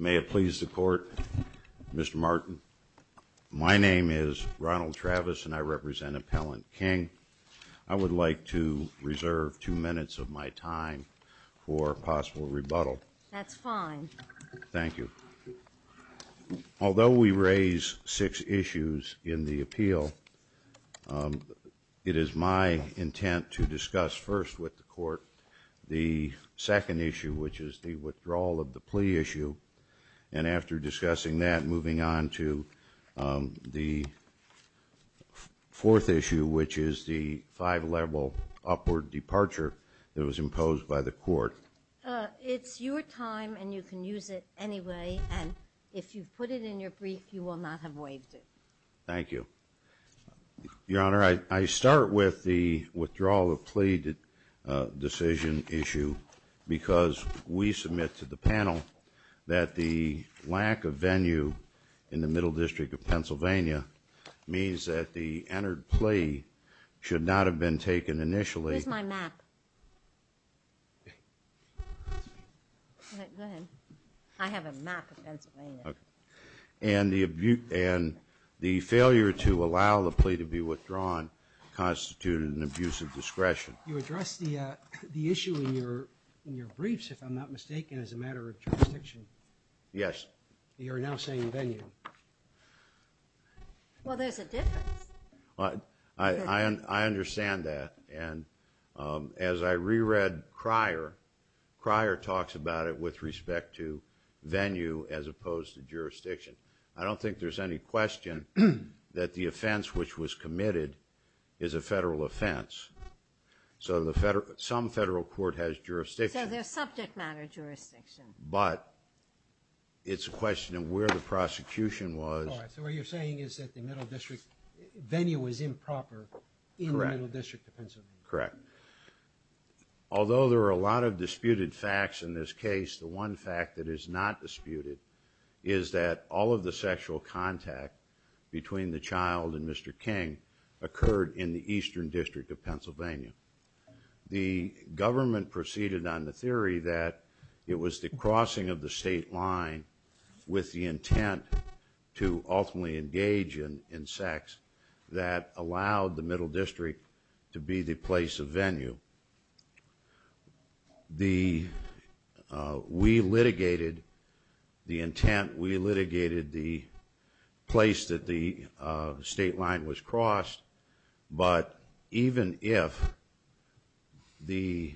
May it please the Court, Mr. Martin, Mr. King, Mr. Martin, Mr. Martin, Mr. Martin, Mr. Martin, My name is Ronald Travis and I represent Appellant King. I would like to reserve two minutes of my time for possible rebuttal. That's fine. Thank you. Although we raise six issues in the appeal, it is my intent to discuss first with the Court the second issue, which is the withdrawal of the plea issue. And after discussing that, moving on to the fourth issue, which is the five-level upward departure that was imposed by the Court. It's your time and you can use it anyway. And if you put it in your brief, you will not have waived it. Thank you. Your Honor, I start with the withdrawal of plea decision issue because we submit to the panel that the lack of venue in the Middle District of Pennsylvania means that the entered plea should not have been taken initially. Here's my map. I have a map of Pennsylvania. And the failure to allow the plea to be withdrawn constituted an abuse of discretion. You addressed the issue in your briefs, if I'm not mistaken, as a matter of jurisdiction. Yes. You are now saying venue. Well, there's a difference. I understand that. And as I reread prior, prior talks about it with respect to venue as opposed to jurisdiction. I don't think there's any question that the offense which was committed is a federal offense. So some federal court has jurisdiction. So there's subject matter jurisdiction. But it's a question of where the prosecution was. All right. So what you're saying is that the Middle District venue was improper in the Middle District of Pennsylvania. Correct. Although there are a lot of disputed facts in this case, the one fact that is not disputed is that all of the sexual contact between the child and Mr. King occurred in the Eastern District of Pennsylvania. The government proceeded on the theory that it was the crossing of the state line with the intent to ultimately engage in sex that allowed the Middle District to be the place of venue. We litigated the intent. We litigated the place that the state line was crossed. But even if the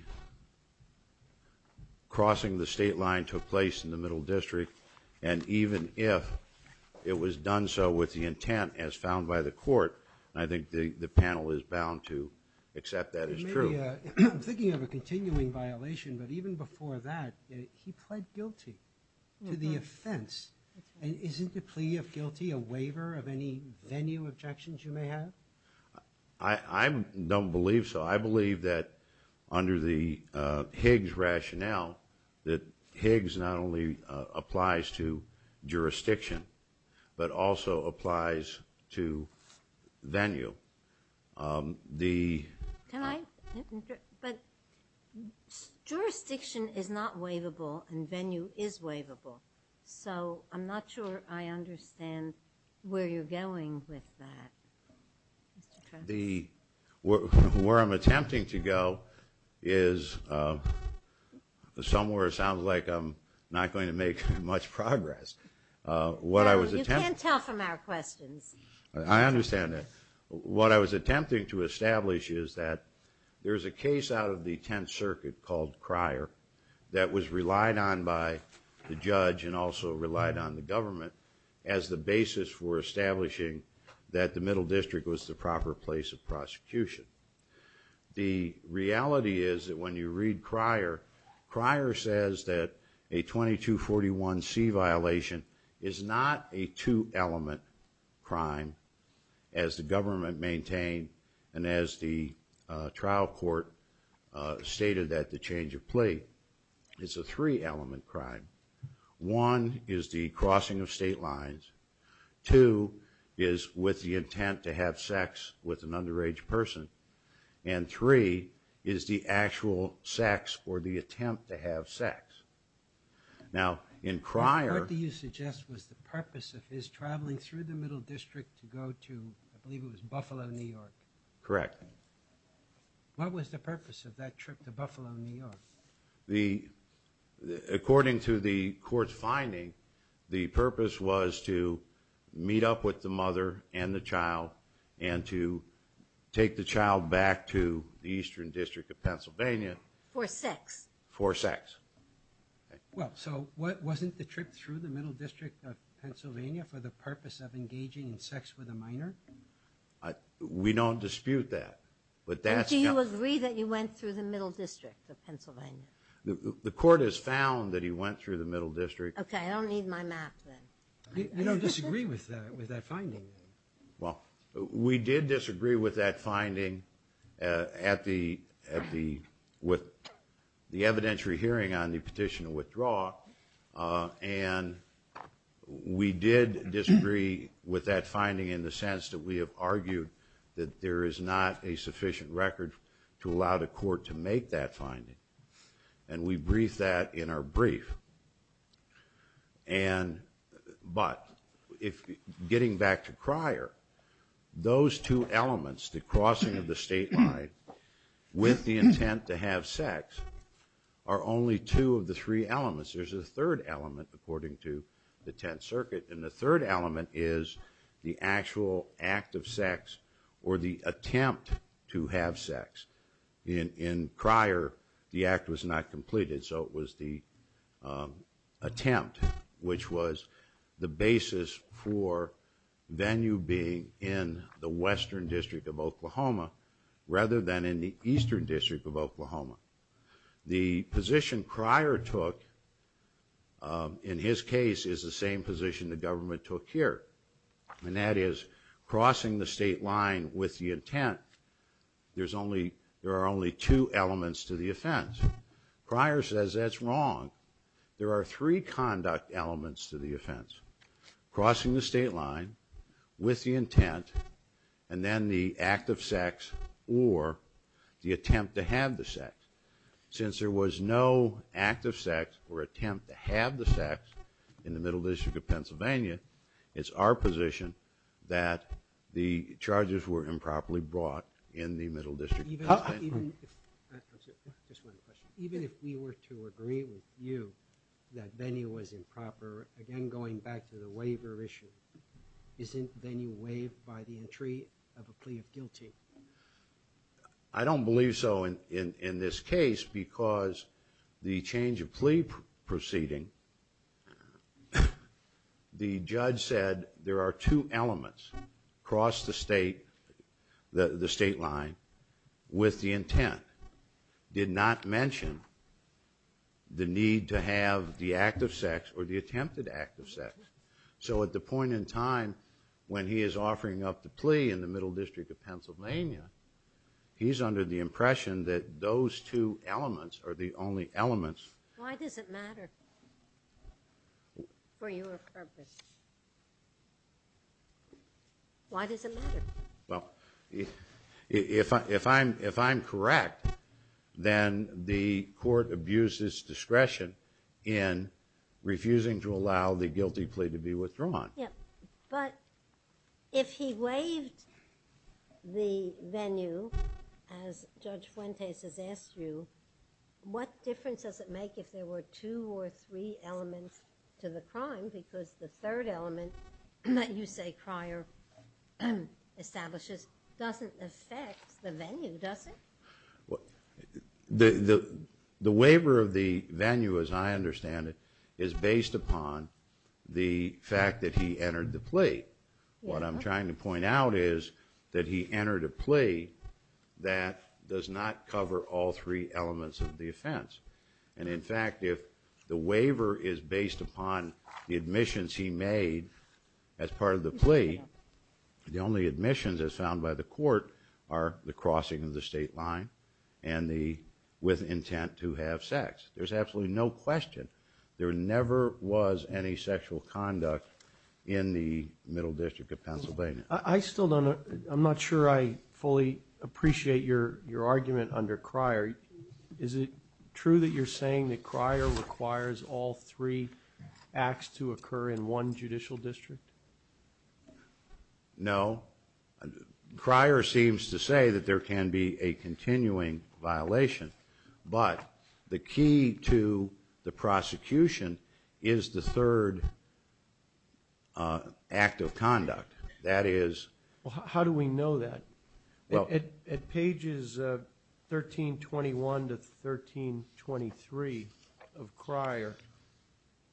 crossing the state line took place in the Middle District and even if it was done so with the intent as found by the court, I think the panel is bound to accept that as true. I'm thinking of a continuing violation. But even before that, he pled guilty to the offense. Isn't the plea of guilty a waiver of any venue objections you may have? I don't believe so. I believe that under the Higgs rationale that Higgs not only applies to jurisdiction but also applies to venue. Can I? But jurisdiction is not waivable and venue is waivable. So I'm not sure I understand where you're going with that, Mr. Trump. Where I'm attempting to go is somewhere it sounds like I'm not going to make much progress. You can't tell from our questions. I understand that. What I was attempting to establish is that there's a case out of the Tenth Circuit called Cryer that was relied on by the judge and also relied on the government as the basis for establishing that the Middle District was the proper place of prosecution. The reality is that when you read Cryer, Cryer says that a 2241C violation is not a two element crime as the government maintained and as the trial court stated that the change of plea is a three element crime. One is the crossing of state lines. Two is with the intent to have sex with an underage person. And three is the actual sex or the attempt to have sex. Now in Cryer- What do you suggest was the purpose of his traveling through the Middle District to go to, I believe it was Buffalo, New York. Correct. What was the purpose of that trip to Buffalo, New York? According to the court's finding, the purpose was to meet up with the mother and the child and to take the child back to the Eastern District of Pennsylvania- For sex. For sex. Well, so wasn't the trip through the Middle District of Pennsylvania for the purpose of engaging in sex with a minor? We don't dispute that, but that's- Do you agree that he went through the Middle District of Pennsylvania? The court has found that he went through the Middle District- Okay, I don't need my map then. I don't disagree with that finding. Well, we did disagree with that finding at the, with the evidentiary hearing on the petition to withdraw, and we did disagree with that finding in the sense that we have argued that there is not a sufficient record to allow the court to make that finding, and we briefed that in our brief. And, but, getting back to Cryer, those two elements, the crossing of the state line with the intent to have sex, are only two of the three elements. There's a third element, according to the Tenth Circuit, and the third element is the actual act of sex or the attempt to have sex. In Cryer, the act was not completed, so it was the attempt, which was the basis for Venue being in the Western District of Oklahoma rather than in the Eastern District of Oklahoma. The position Cryer took, in his case, is the same position the government took here, and that is crossing the state line with the intent, there's only, there are only two elements to the offense. Cryer says that's wrong. There are three conduct elements to the offense. Crossing the state line with the intent, and then the act of sex or the attempt to have the sex. Since there was no act of sex or attempt to have the sex in the Middle District of Pennsylvania, it's our position that the charges were improperly brought in the Middle District. Even if we were to agree with you that Venue was improper, again going back to the waiver issue, isn't Venue waived by the entry of a plea of guilty? I don't believe so in this case because the change of plea proceeding, the judge said there are two elements. Cross the state line with the intent. Did not mention the need to have the act of sex or the attempted act of sex. So at the point in time when he is offering up the plea in the Middle District of Pennsylvania, he's under the impression that those two elements are the only elements. Why does it matter for your purpose? Why does it matter? If I'm correct, then the court abuses discretion in refusing to allow the guilty plea to be withdrawn. But if he waived the Venue, as Judge Fuentes has asked you, what difference does it make if there were two or three elements to the crime? Because the third element that you say Cryer establishes doesn't affect the Venue, does it? The waiver of the Venue, as I understand it, is based upon the fact that he entered the plea. What I'm trying to point out is that he entered a plea that does not cover all three elements of the offense. And in fact, if the waiver is based upon the admissions he made as part of the plea, the only admissions as found by the court are the crossing of the state line and the with intent to have sex. There's absolutely no question. There never was any sexual conduct in the Middle District of Pennsylvania. I still don't know. I'm not sure I fully appreciate your argument under Cryer. Is it true that you're saying that Cryer requires all three acts to occur in one judicial district? No. Cryer seems to say that there can be a continuing violation. But the key to the prosecution is the third act of conduct. That is... How do we know that? Well... At pages 1321 to 1323 of Cryer,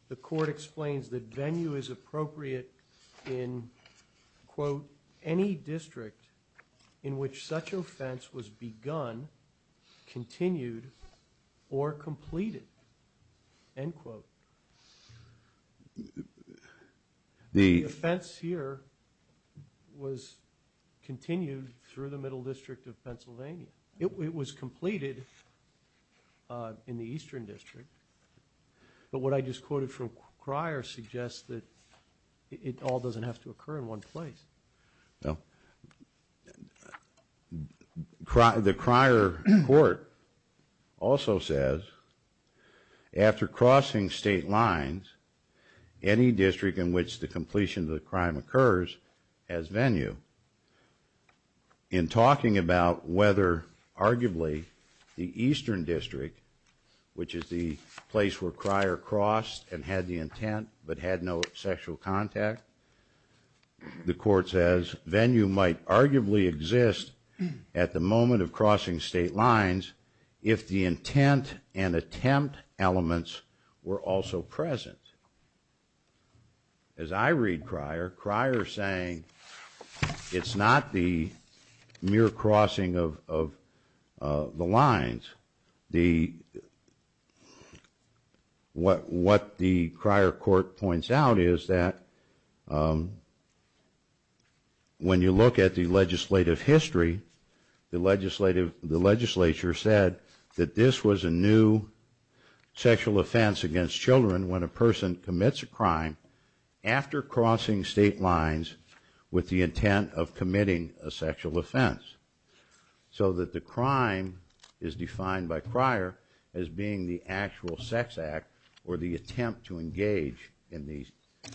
the court explains that Venue is appropriate in, quote, any district in which such offense was begun, continued, or completed, end quote. The... The offense here was continued through the Middle District of Pennsylvania. It was completed in the Eastern District. But what I just quoted from Cryer suggests that it all doesn't have to occur in one place. Well... The Cryer court also says, after crossing state lines, any district in which the completion of the crime occurs has Venue. In talking about whether, arguably, the Eastern District, which is the place where Cryer crossed and had the intent but had no sexual contact, the court says Venue might arguably exist at the moment of crossing state lines if the intent and attempt elements were also present. As I read Cryer, Cryer is saying it's not the mere crossing of the lines. The... What the Cryer court points out is that when you look at the legislative history, the legislature said that this was a new sexual offense against children when a person commits a crime after crossing state lines with the intent of committing a sexual offense. So that the crime is defined by Cryer as being the actual sex act or the attempt to engage in the...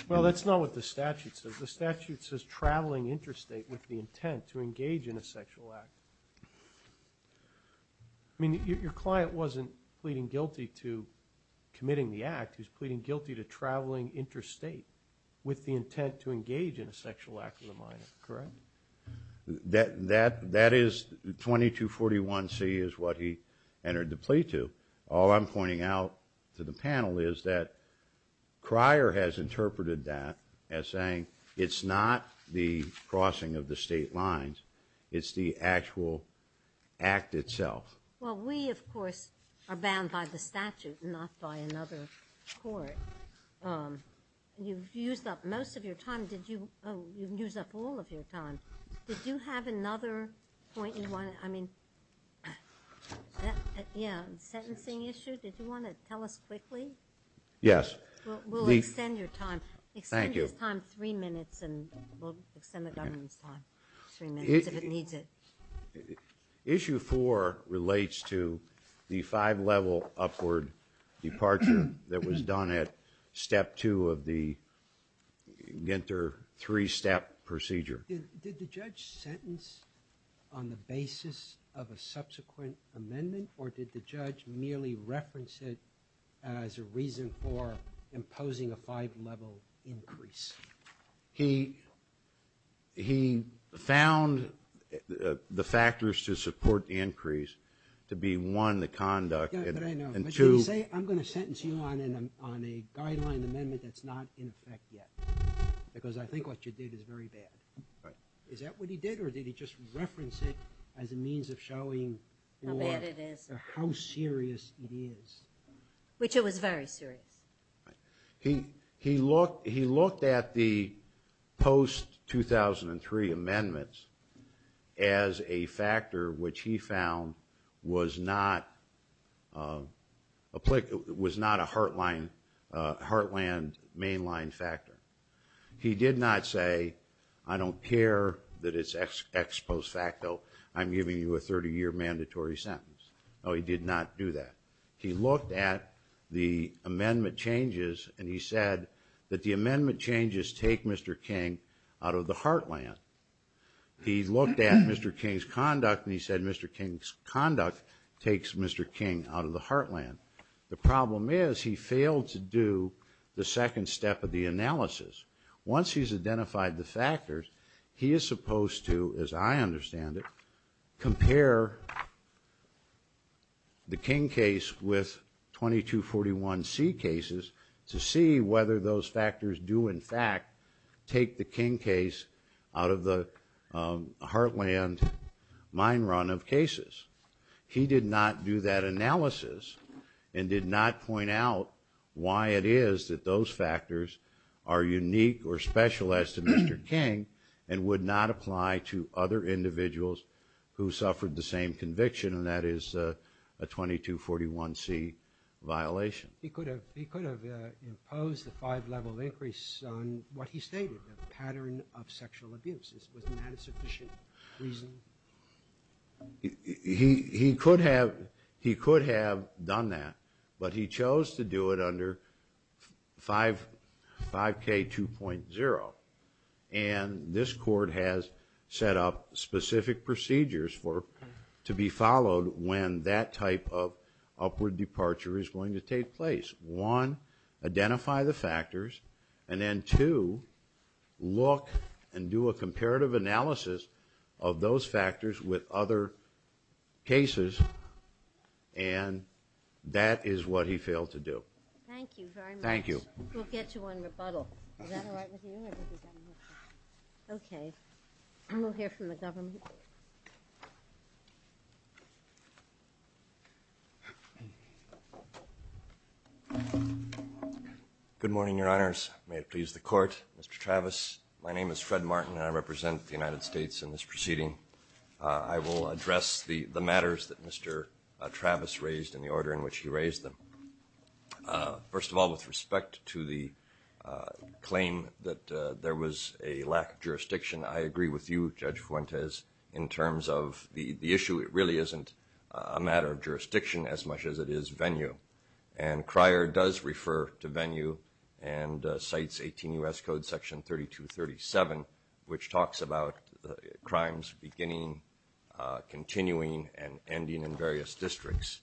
Well, that's not what the statute says. The statute says traveling interstate with the intent to engage in a sexual act. I mean, your client wasn't pleading guilty to committing the act. He's pleading guilty to traveling interstate with the intent to engage in a sexual act of the minor, correct? That is 2241C is what he entered the plea to. All I'm pointing out to the panel is that Cryer has interpreted that as saying it's not the crossing of the state lines, it's the actual act itself. Well, we, of course, are bound by the statute and not by another court. You've used up most of your time. Did you, oh, you've used up all of your time. Did you have another point you wanted, I mean, yeah, sentencing issue? Did you want to tell us quickly? Yes. We'll extend your time. Thank you. Extend his time three minutes and we'll extend the governor's time three minutes if it needs it. Issue four relates to the five-level upward departure that was done at step two of the Ginter three-step procedure. Did the judge sentence on the basis of a subsequent amendment or did the judge merely reference it as a reason for imposing a five-level increase? He found the factors to support the increase to be, one, the conduct and, two. Yeah, but I know. But can you say I'm going to sentence you on a guideline amendment that's not in effect yet because I think what you did is very bad. Is that what he did or did he just reference it as a means of showing how serious it is? Which it was very serious. He looked at the post-2003 amendments as a factor which he found was not a heartland mainline factor. He did not say, I don't care that it's ex post facto. I'm giving you a 30-year mandatory sentence. No, he did not do that. He looked at the amendment changes and he said that the amendment changes take Mr. King out of the heartland. He looked at Mr. King's conduct and he said Mr. King's conduct takes Mr. King out of the heartland. The problem is he failed to do the second step of the analysis. Once he's identified the factors, he is supposed to, as I understand it, compare the King case with 2241C cases to see whether those factors do, in fact, take the King case out of the heartland mine run of cases. He did not do that analysis and did not point out why it is that those factors are unique or special as to Mr. King and would not apply to other individuals who suffered the same conviction, and that is a 2241C violation. He could have imposed a five-level increase on what he stated, a pattern of sexual abuse. Wasn't that a sufficient reason? He could have done that, but he chose to do it under 5K2.0, and this court has set up specific procedures to be followed when that type of upward departure is going to take place. One, identify the factors, and then two, look and do a comparative analysis of those factors with other cases, and that is what he failed to do. Thank you very much. Thank you. We'll get to one rebuttal. Is that all right with you? Okay. We'll hear from the government. Good morning, Your Honors. May it please the Court. Mr. Travis, my name is Fred Martin, and I represent the United States in this proceeding. I will address the matters that Mr. Travis raised and the order in which he raised them. First of all, with respect to the claim that there was a lack of jurisdiction, I agree with you, Judge Fuentes, in terms of the issue. It really isn't a matter of jurisdiction as much as it is venue, and Cryer does refer to venue and cites 18 U.S. Code Section 3237, which talks about crimes beginning, continuing, and ending in various districts.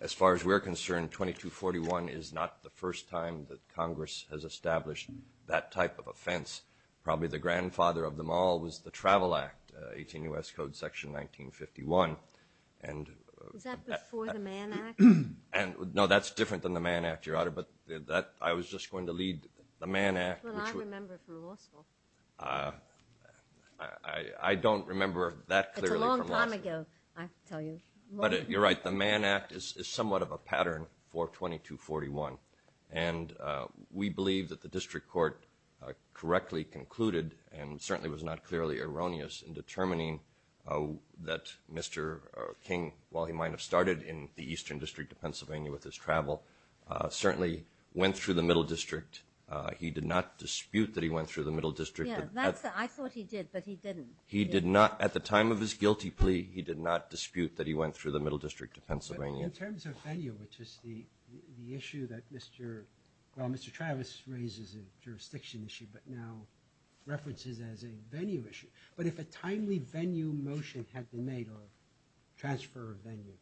As far as we're concerned, 2241 is not the first time that Congress has established that type of offense. Probably the grandfather of them all was the Travel Act, 18 U.S. Code Section 1951. Was that before the Mann Act? No, that's different than the Mann Act, Your Honor, but I was just going to lead the Mann Act. That's what I remember from law school. I don't remember that clearly from law school. It's a long time ago, I tell you. You're right. The Mann Act is somewhat of a pattern for 2241, and we believe that the district court correctly concluded and certainly was not clearly erroneous in determining that Mr. King, while he might have started in the Eastern District of Pennsylvania with his travel, certainly went through the Middle District. He did not dispute that he went through the Middle District. I thought he did, but he didn't. He did not, at the time of his guilty plea, he did not dispute that he went through the Middle District of Pennsylvania. In terms of venue, which is the issue that Mr. Travis raises as a jurisdiction issue but now references as a venue issue, but if a timely venue motion had been made on transfer of venue,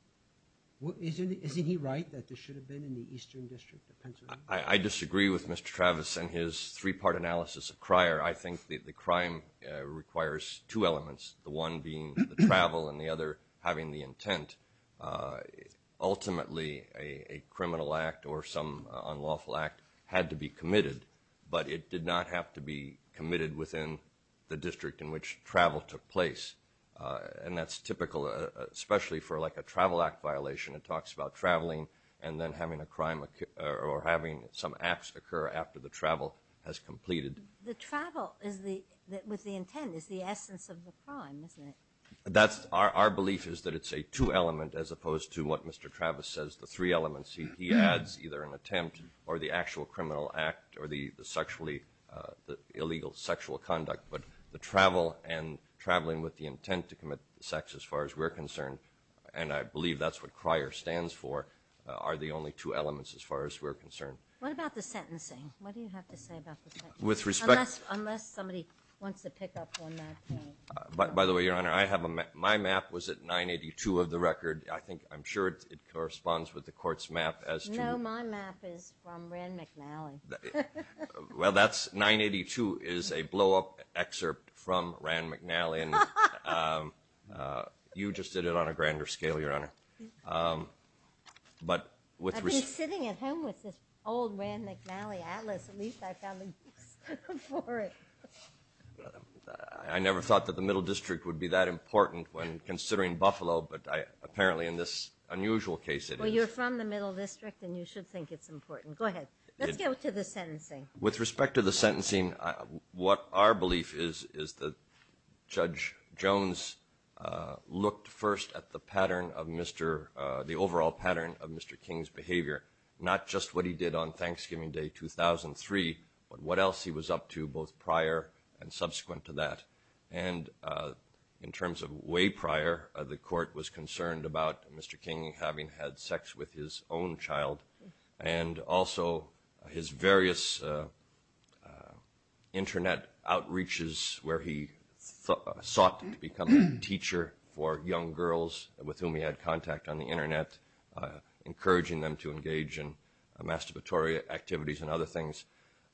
isn't he right that this should have been in the Eastern District of Pennsylvania? I disagree with Mr. Travis and his three-part analysis of Cryer. I think that the crime requires two elements, the one being the travel and the other having the intent. Ultimately, a criminal act or some unlawful act had to be committed, but it did not have to be committed within the district in which travel took place, and that's typical especially for like a travel act violation. It talks about traveling and then having a crime or having some acts occur after the travel has completed. The travel with the intent is the essence of the crime, isn't it? Our belief is that it's a two element as opposed to what Mr. Travis says, the three elements he adds, either an attempt or the actual criminal act or the illegal sexual conduct, but the travel and traveling with the intent to commit sex as far as we're concerned, and I believe that's what Cryer stands for, are the only two elements as far as we're concerned. What about the sentencing? What do you have to say about the sentencing? Unless somebody wants to pick up on that point. By the way, Your Honor, my map was at 982 of the record. I'm sure it corresponds with the court's map as to— No, my map is from Rand McNally. Well, 982 is a blowup excerpt from Rand McNally, I've been sitting at home with this old Rand McNally atlas. At least I found a use for it. I never thought that the Middle District would be that important when considering Buffalo, but apparently in this unusual case it is. Well, you're from the Middle District, and you should think it's important. Go ahead. Let's go to the sentencing. With respect to the sentencing, what our belief is is that Judge Jones looked first at the overall pattern of Mr. King's behavior, not just what he did on Thanksgiving Day 2003, but what else he was up to both prior and subsequent to that. And in terms of way prior, the court was concerned about Mr. King having had sex with his own child and also his various Internet outreaches where he sought to become a teacher for young girls with whom he had contact on the Internet, encouraging them to engage in masturbatory activities and other things.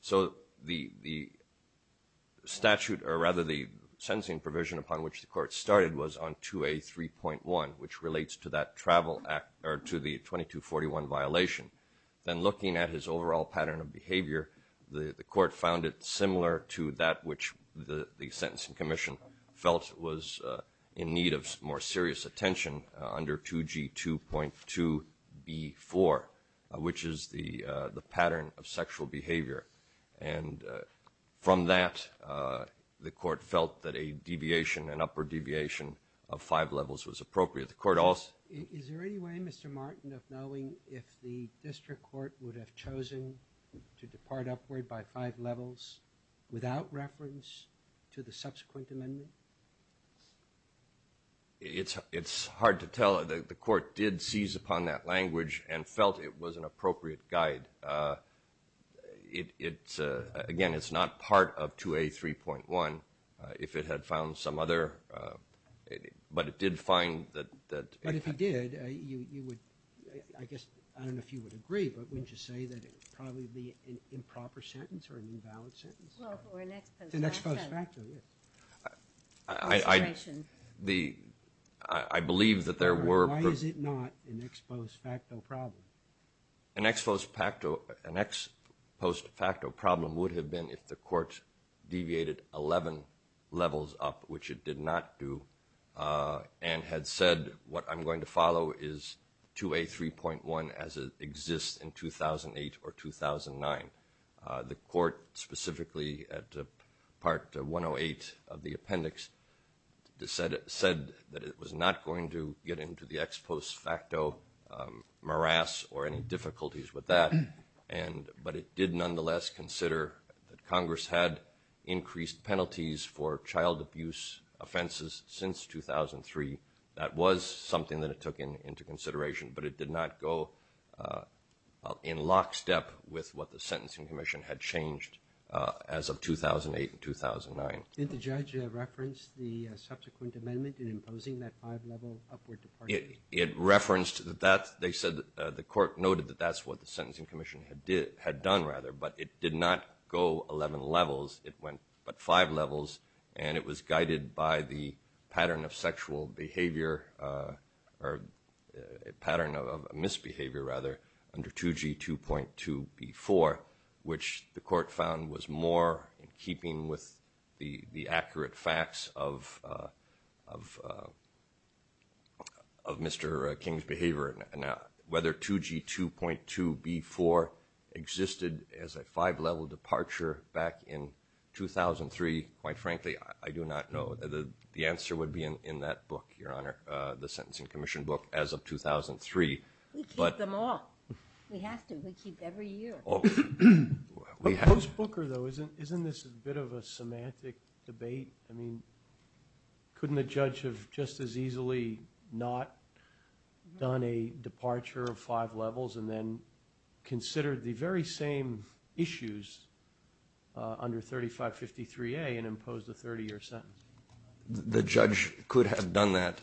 So the statute, or rather the sentencing provision upon which the court started was on 2A3.1, which relates to that travel act or to the 2241 violation. Then looking at his overall pattern of behavior, the court found it similar to that which the sentencing commission felt was in need of more serious attention under 2G2.2B4, which is the pattern of sexual behavior. And from that, the court felt that a deviation, an upper deviation of five levels was appropriate. Is there any way, Mr. Martin, of knowing if the district court would have chosen to depart upward by five levels without reference to the subsequent amendment? It's hard to tell. The court did seize upon that language and felt it was an appropriate guide. Again, it's not part of 2A3.1. If it had found some other, but it did find that. But if it did, you would, I guess, I don't know if you would agree, but wouldn't you say that it would probably be an improper sentence or an invalid sentence? Well, for an ex post facto. An ex post facto, yes. I believe that there were. Why is it not an ex post facto problem? An ex post facto problem would have been if the court deviated 11 levels up, which it did not do and had said what I'm going to follow is 2A3.1 as it exists in 2008 or 2009. The court, specifically at Part 108 of the appendix, said that it was not going to get into the ex post facto morass or any difficulties with that, but it did nonetheless consider that Congress had increased penalties for child abuse offenses since 2003. That was something that it took into consideration, but it did not go in lockstep with what the Sentencing Commission had changed as of 2008 and 2009. Did the judge reference the subsequent amendment in imposing that five-level upward departure? It referenced that. They said the court noted that that's what the Sentencing Commission had done, rather, but it did not go 11 levels. It went but five levels, and it was guided by the pattern of sexual behavior or a pattern of misbehavior, rather, under 2G2.2B4, which the court found was more in keeping with the accurate facts of Mr. King's behavior. Whether 2G2.2B4 existed as a five-level departure back in 2003, quite frankly, I do not know. The answer would be in that book, Your Honor, the Sentencing Commission book as of 2003. We keep them all. We have to. We keep every year. Post-Booker, though, isn't this a bit of a semantic debate? I mean, couldn't the judge have just as easily not done a departure of five levels and then considered the very same issues under 3553A and imposed a 30-year sentence? The judge could have done that.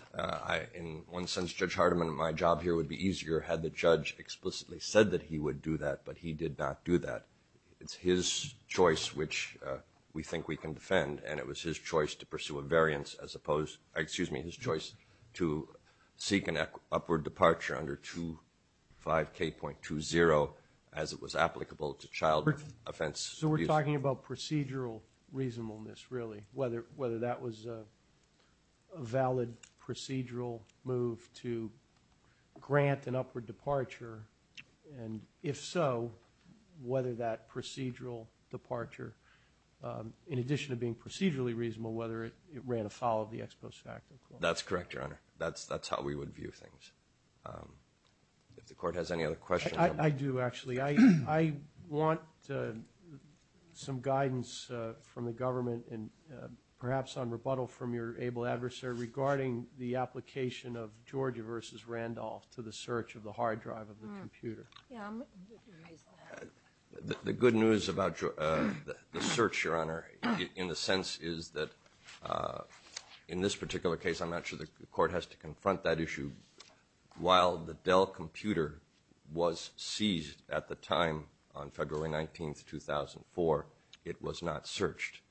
In one sense, Judge Hardiman, my job here would be easier had the judge explicitly said that he would do that, but he did not do that. It's his choice, which we think we can defend, and it was his choice to pursue a variance as opposed to, excuse me, his choice to seek an upward departure under 25K.20 as it was applicable to child offense. So we're talking about procedural reasonableness, really, whether that was a valid procedural move to grant an upward departure, and if so, whether that procedural departure, in addition to being procedurally reasonable, whether it ran afoul of the Ex Post facto clause. That's correct, Your Honor. That's how we would view things. If the Court has any other questions on that. I do, actually. I want some guidance from the government and perhaps on rebuttal from your able adversary regarding the application of Georgia v. Randolph to the search of the hard drive of the computer. The good news about the search, Your Honor, in a sense, is that in this particular case, I'm not sure the Court has to confront that issue. While the Dell computer was seized at the time on February 19, 2004, it was not searched.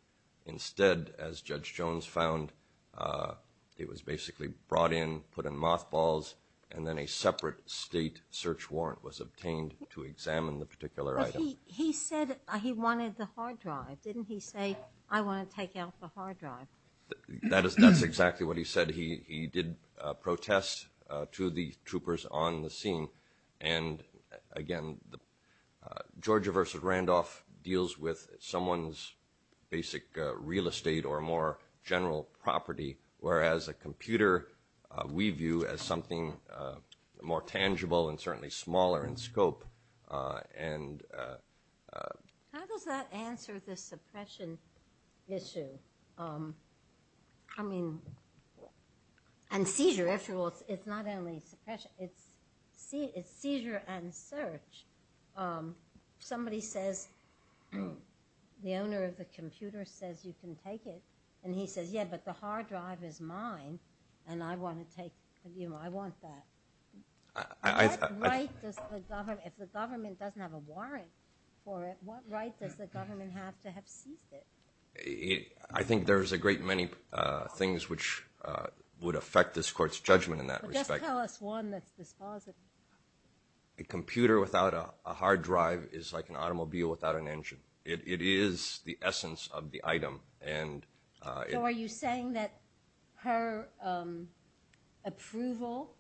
Instead, as Judge Jones found, it was basically brought in, put in mothballs, and then a separate state search warrant was obtained to examine the particular item. But he said he wanted the hard drive. Didn't he say, I want to take out the hard drive? That's exactly what he said. He did protest to the troopers on the scene. And, again, Georgia v. Randolph deals with someone's basic real estate or more general property, whereas a computer we view as something more tangible and certainly smaller in scope. How does that answer the suppression issue? I mean, and seizure. After all, it's not only suppression. It's seizure and search. Somebody says, the owner of the computer says you can take it, and he says, yeah, but the hard drive is mine, and I want to take it. I want that. What right does the government, if the government doesn't have a warrant for it, what right does the government have to have seized it? I think there's a great many things which would affect this court's judgment in that respect. Just tell us one that's dispositive. A computer without a hard drive is like an automobile without an engine. It is the essence of the item. So are you saying that her approval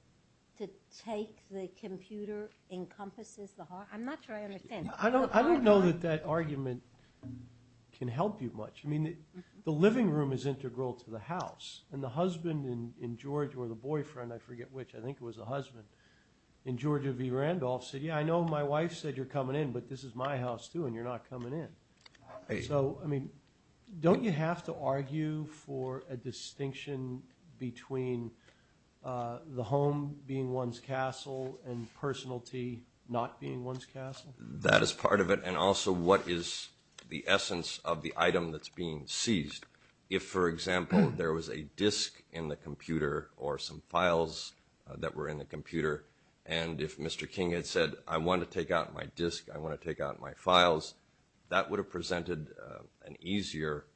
to take the computer encompasses the hard drive? I'm not sure I understand. I don't know that that argument can help you much. I mean, the living room is integral to the house, and the husband in Georgia, or the boyfriend, I forget which, I think it was the husband, in Georgia v. Randolph said, yeah, I know my wife said you're coming in, but this is my house, too, and you're not coming in. So, I mean, don't you have to argue for a distinction between the home being one's castle and personality not being one's castle? That is part of it, and also what is the essence of the item that's being seized. If, for example, there was a disk in the computer or some files that were in the computer, and if Mr. King had said, I want to take out my disk, I want to take out my files, that would have presented an easier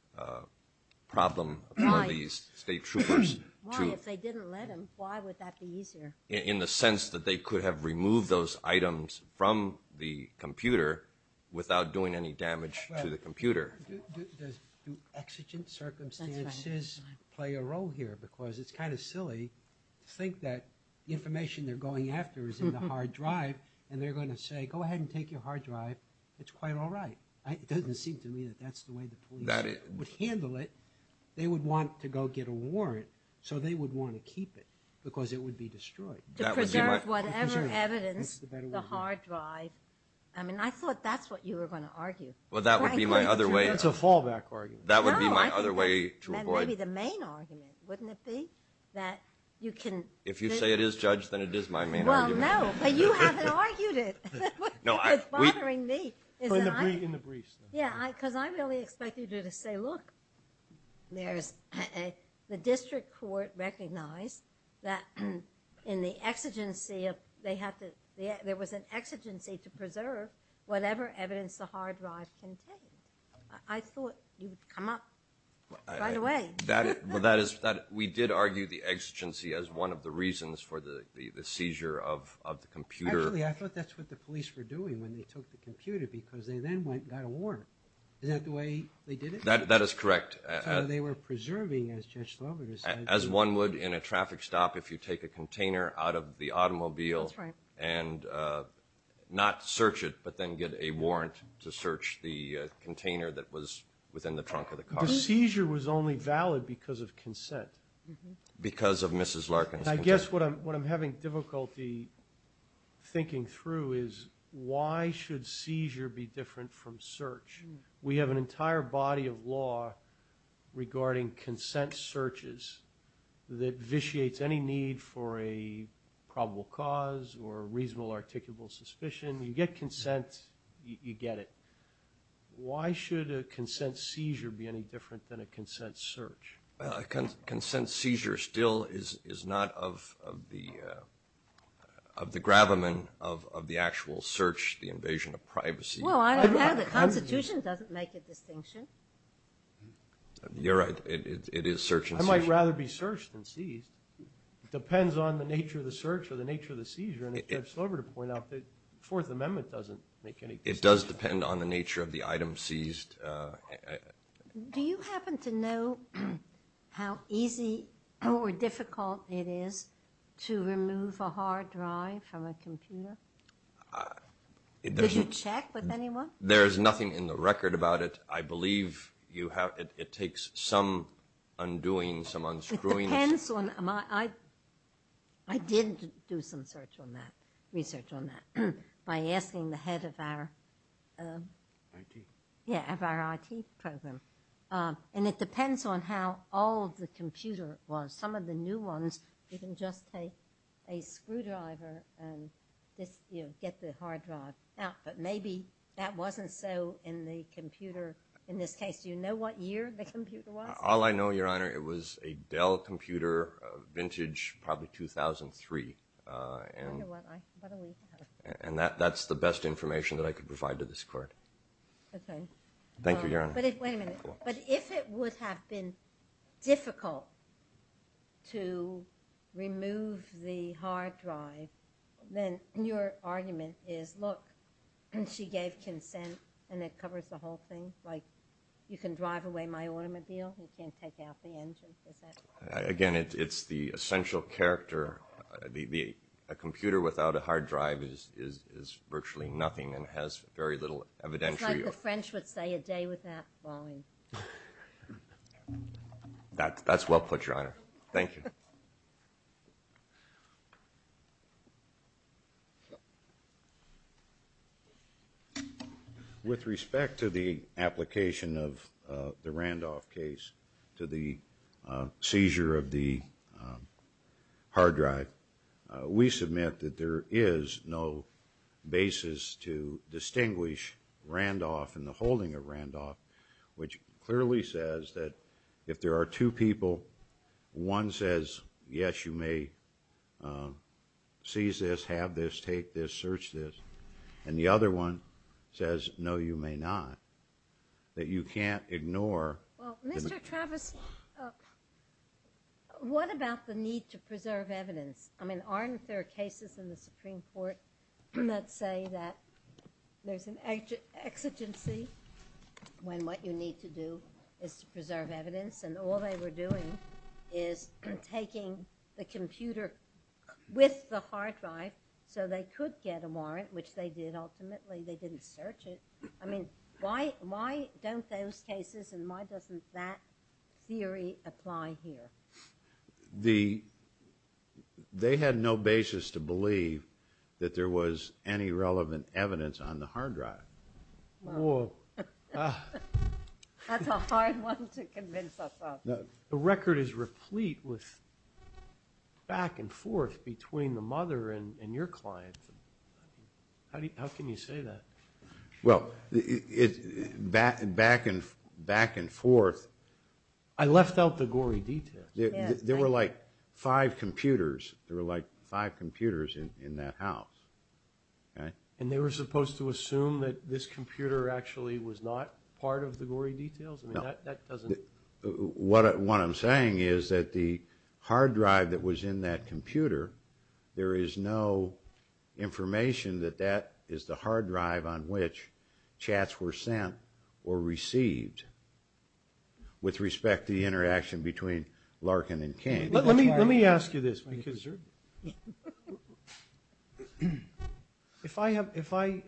problem for these state troopers. Why, if they didn't let him, why would that be easier? In the sense that they could have removed those items from the computer without doing any damage to the computer. Do exigent circumstances play a role here? Because it's kind of silly to think that the information they're going after is in the hard drive, and they're going to say, go ahead and take your hard drive, it's quite all right. It doesn't seem to me that that's the way the police would handle it. They would want to go get a warrant so they would want to keep it because it would be destroyed. To preserve whatever evidence, the hard drive, I mean, I thought that's what you were going to argue. Well, that would be my other way. That's a fallback argument. That would be my other way to avoid. Maybe the main argument, wouldn't it be? If you say it is, Judge, then it is my main argument. Well, no, but you haven't argued it. It's bothering me. In the briefs. Yeah, because I really expected you to say, look, the district court recognized that in the exigency, there was an exigency to preserve whatever evidence the hard drive contained. I thought you would come up right away. We did argue the exigency as one of the reasons for the seizure of the computer. Actually, I thought that's what the police were doing when they took the computer because they then went and got a warrant. Is that the way they did it? That is correct. So they were preserving, as Judge Slover said. As one would in a traffic stop if you take a container out of the automobile and not search it but then get a warrant to search the container that was within the trunk of the car. Because of Mrs. Larkin's consent. I guess what I'm having difficulty thinking through is why should seizure be different from search? We have an entire body of law regarding consent searches that vitiates any need for a probable cause or reasonable articulable suspicion. You get consent, you get it. Why should a consent seizure be any different than a consent search? Consent seizure still is not of the gravamen of the actual search, the invasion of privacy. Well, I don't know. The Constitution doesn't make a distinction. You're right. It is search and seizure. I might rather be searched than seized. It depends on the nature of the search or the nature of the seizure. And as Judge Slover pointed out, the Fourth Amendment doesn't make any distinction. It does depend on the nature of the item seized. Do you happen to know how easy or difficult it is to remove a hard drive from a computer? Did you check with anyone? There is nothing in the record about it. I believe it takes some undoing, some unscrewing. It depends on my – I did do some research on that by asking the head of our – IT? Yeah, of our IT program. And it depends on how old the computer was. Some of the new ones, you can just take a screwdriver and get the hard drive out. But maybe that wasn't so in the computer. In this case, do you know what year the computer was? All I know, Your Honor, it was a Dell computer, vintage, probably 2003. I wonder what a week has been. And that's the best information that I could provide to this court. Okay. Thank you, Your Honor. Wait a minute. But if it would have been difficult to remove the hard drive, then your argument is, look, she gave consent and it covers the whole thing? Like, you can drive away my automobile. You can't take out the engine. Again, it's the essential character. A computer without a hard drive is virtually nothing and has very little evidential use. It's like the French would say, a day without falling. That's well put, Your Honor. Thank you. With respect to the application of the Randolph case to the seizure of the hard drive, we submit that there is no basis to distinguish Randolph and the holding of Randolph, which clearly says that if there are two people, one says, yes, you may seize this, have this, take this, search this, and the other one says, no, you may not. That you can't ignore. Well, Mr. Travis, what about the need to preserve evidence? I mean, aren't there cases in the Supreme Court that say that there's an exigency when what you need to do is to preserve evidence? And all they were doing is taking the computer with the hard drive so they could get a warrant, which they did ultimately. They didn't search it. I mean, why don't those cases and why doesn't that theory apply here? They had no basis to believe that there was any relevant evidence on the hard drive. Whoa. That's a hard one to convince us of. The record is replete with back and forth between the mother and your client. How can you say that? Well, back and forth. I left out the gory details. There were like five computers. There were like five computers in that house. And they were supposed to assume that this computer actually was not part of the gory details? No. What I'm saying is that the hard drive that was in that computer, there is no information that that is the hard drive on which chats were sent or received with respect to the interaction between Larkin and King. Let me ask you this. If I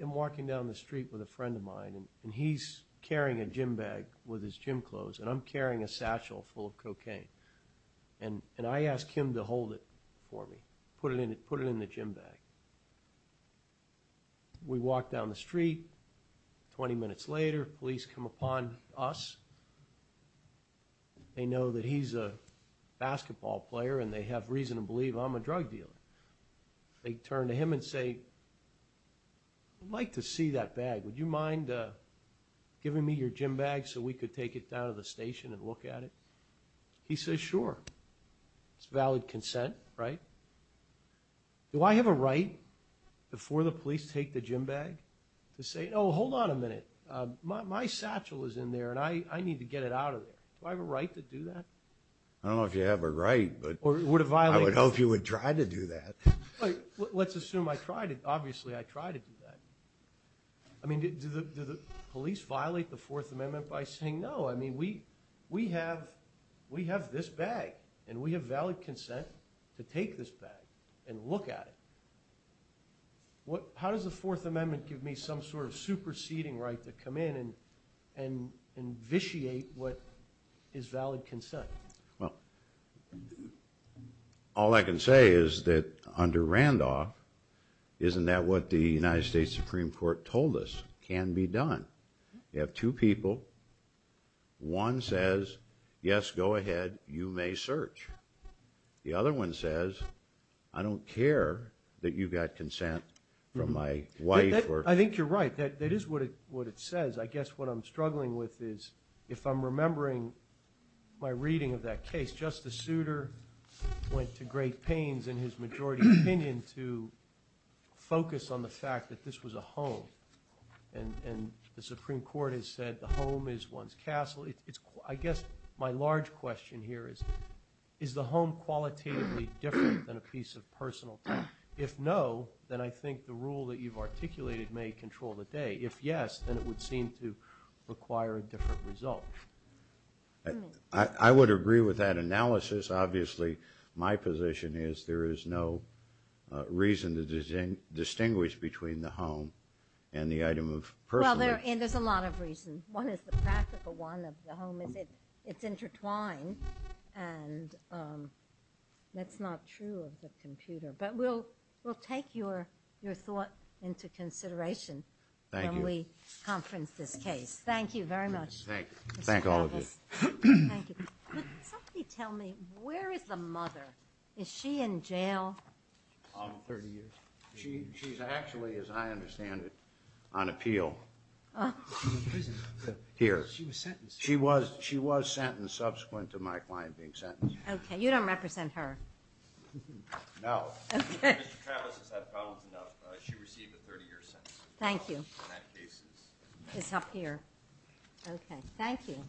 am walking down the street with a friend of mine and he's carrying a gym bag with his gym clothes and I'm carrying a satchel full of cocaine and I ask him to hold it for me, put it in the gym bag, we walk down the street, 20 minutes later, police come upon us. They know that he's a basketball player and they have reason to believe I'm a drug dealer. They turn to him and say, I'd like to see that bag. Would you mind giving me your gym bag so we could take it down to the station and look at it? He says, sure. It's valid consent, right? Do I have a right before the police take the gym bag to say, oh, hold on a minute. My satchel is in there and I need to get it out of there. Do I have a right to do that? I don't know if you have a right. I would hope you would try to do that. Let's assume I try to, obviously I try to do that. I mean, do the police violate the Fourth Amendment by saying, no, I mean, we have this bag and we have valid consent to take this bag and look at it. How does the Fourth Amendment give me some sort of superseding right to come in and vitiate what is valid consent? Well, all I can say is that under Randolph, isn't that what the United States Supreme Court told us can be done? You have two people. One says, yes, go ahead, you may search. The other one says, I don't care that you got consent from my wife. I think you're right. That is what it says. I guess what I'm struggling with is if I'm remembering my reading of that case, Justice Souter went to great pains in his majority opinion to focus on the fact that this was a home. And the Supreme Court has said the home is one's castle. I guess my large question here is, is the home qualitatively different than a piece of personal property? If no, then I think the rule that you've articulated may control the day. If yes, then it would seem to require a different result. I would agree with that analysis. Obviously, my position is there is no reason to distinguish between the home and the item of personal interest. Well, there's a lot of reasons. One is the practical one of the home is it's intertwined, and that's not true of the computer. But we'll take your thought into consideration. Thank you. When we conference this case. Thank you very much. Thank you. Thank all of you. Thank you. Somebody tell me, where is the mother? Is she in jail? 30 years. She's actually, as I understand it, on appeal here. She was sentenced. She was sentenced subsequent to my client being sentenced. Okay. You don't represent her. No. Okay. Mr. Travis has had problems enough. She received a 30-year sentence. Thank you. In that case. It's up here. Okay. Thank you.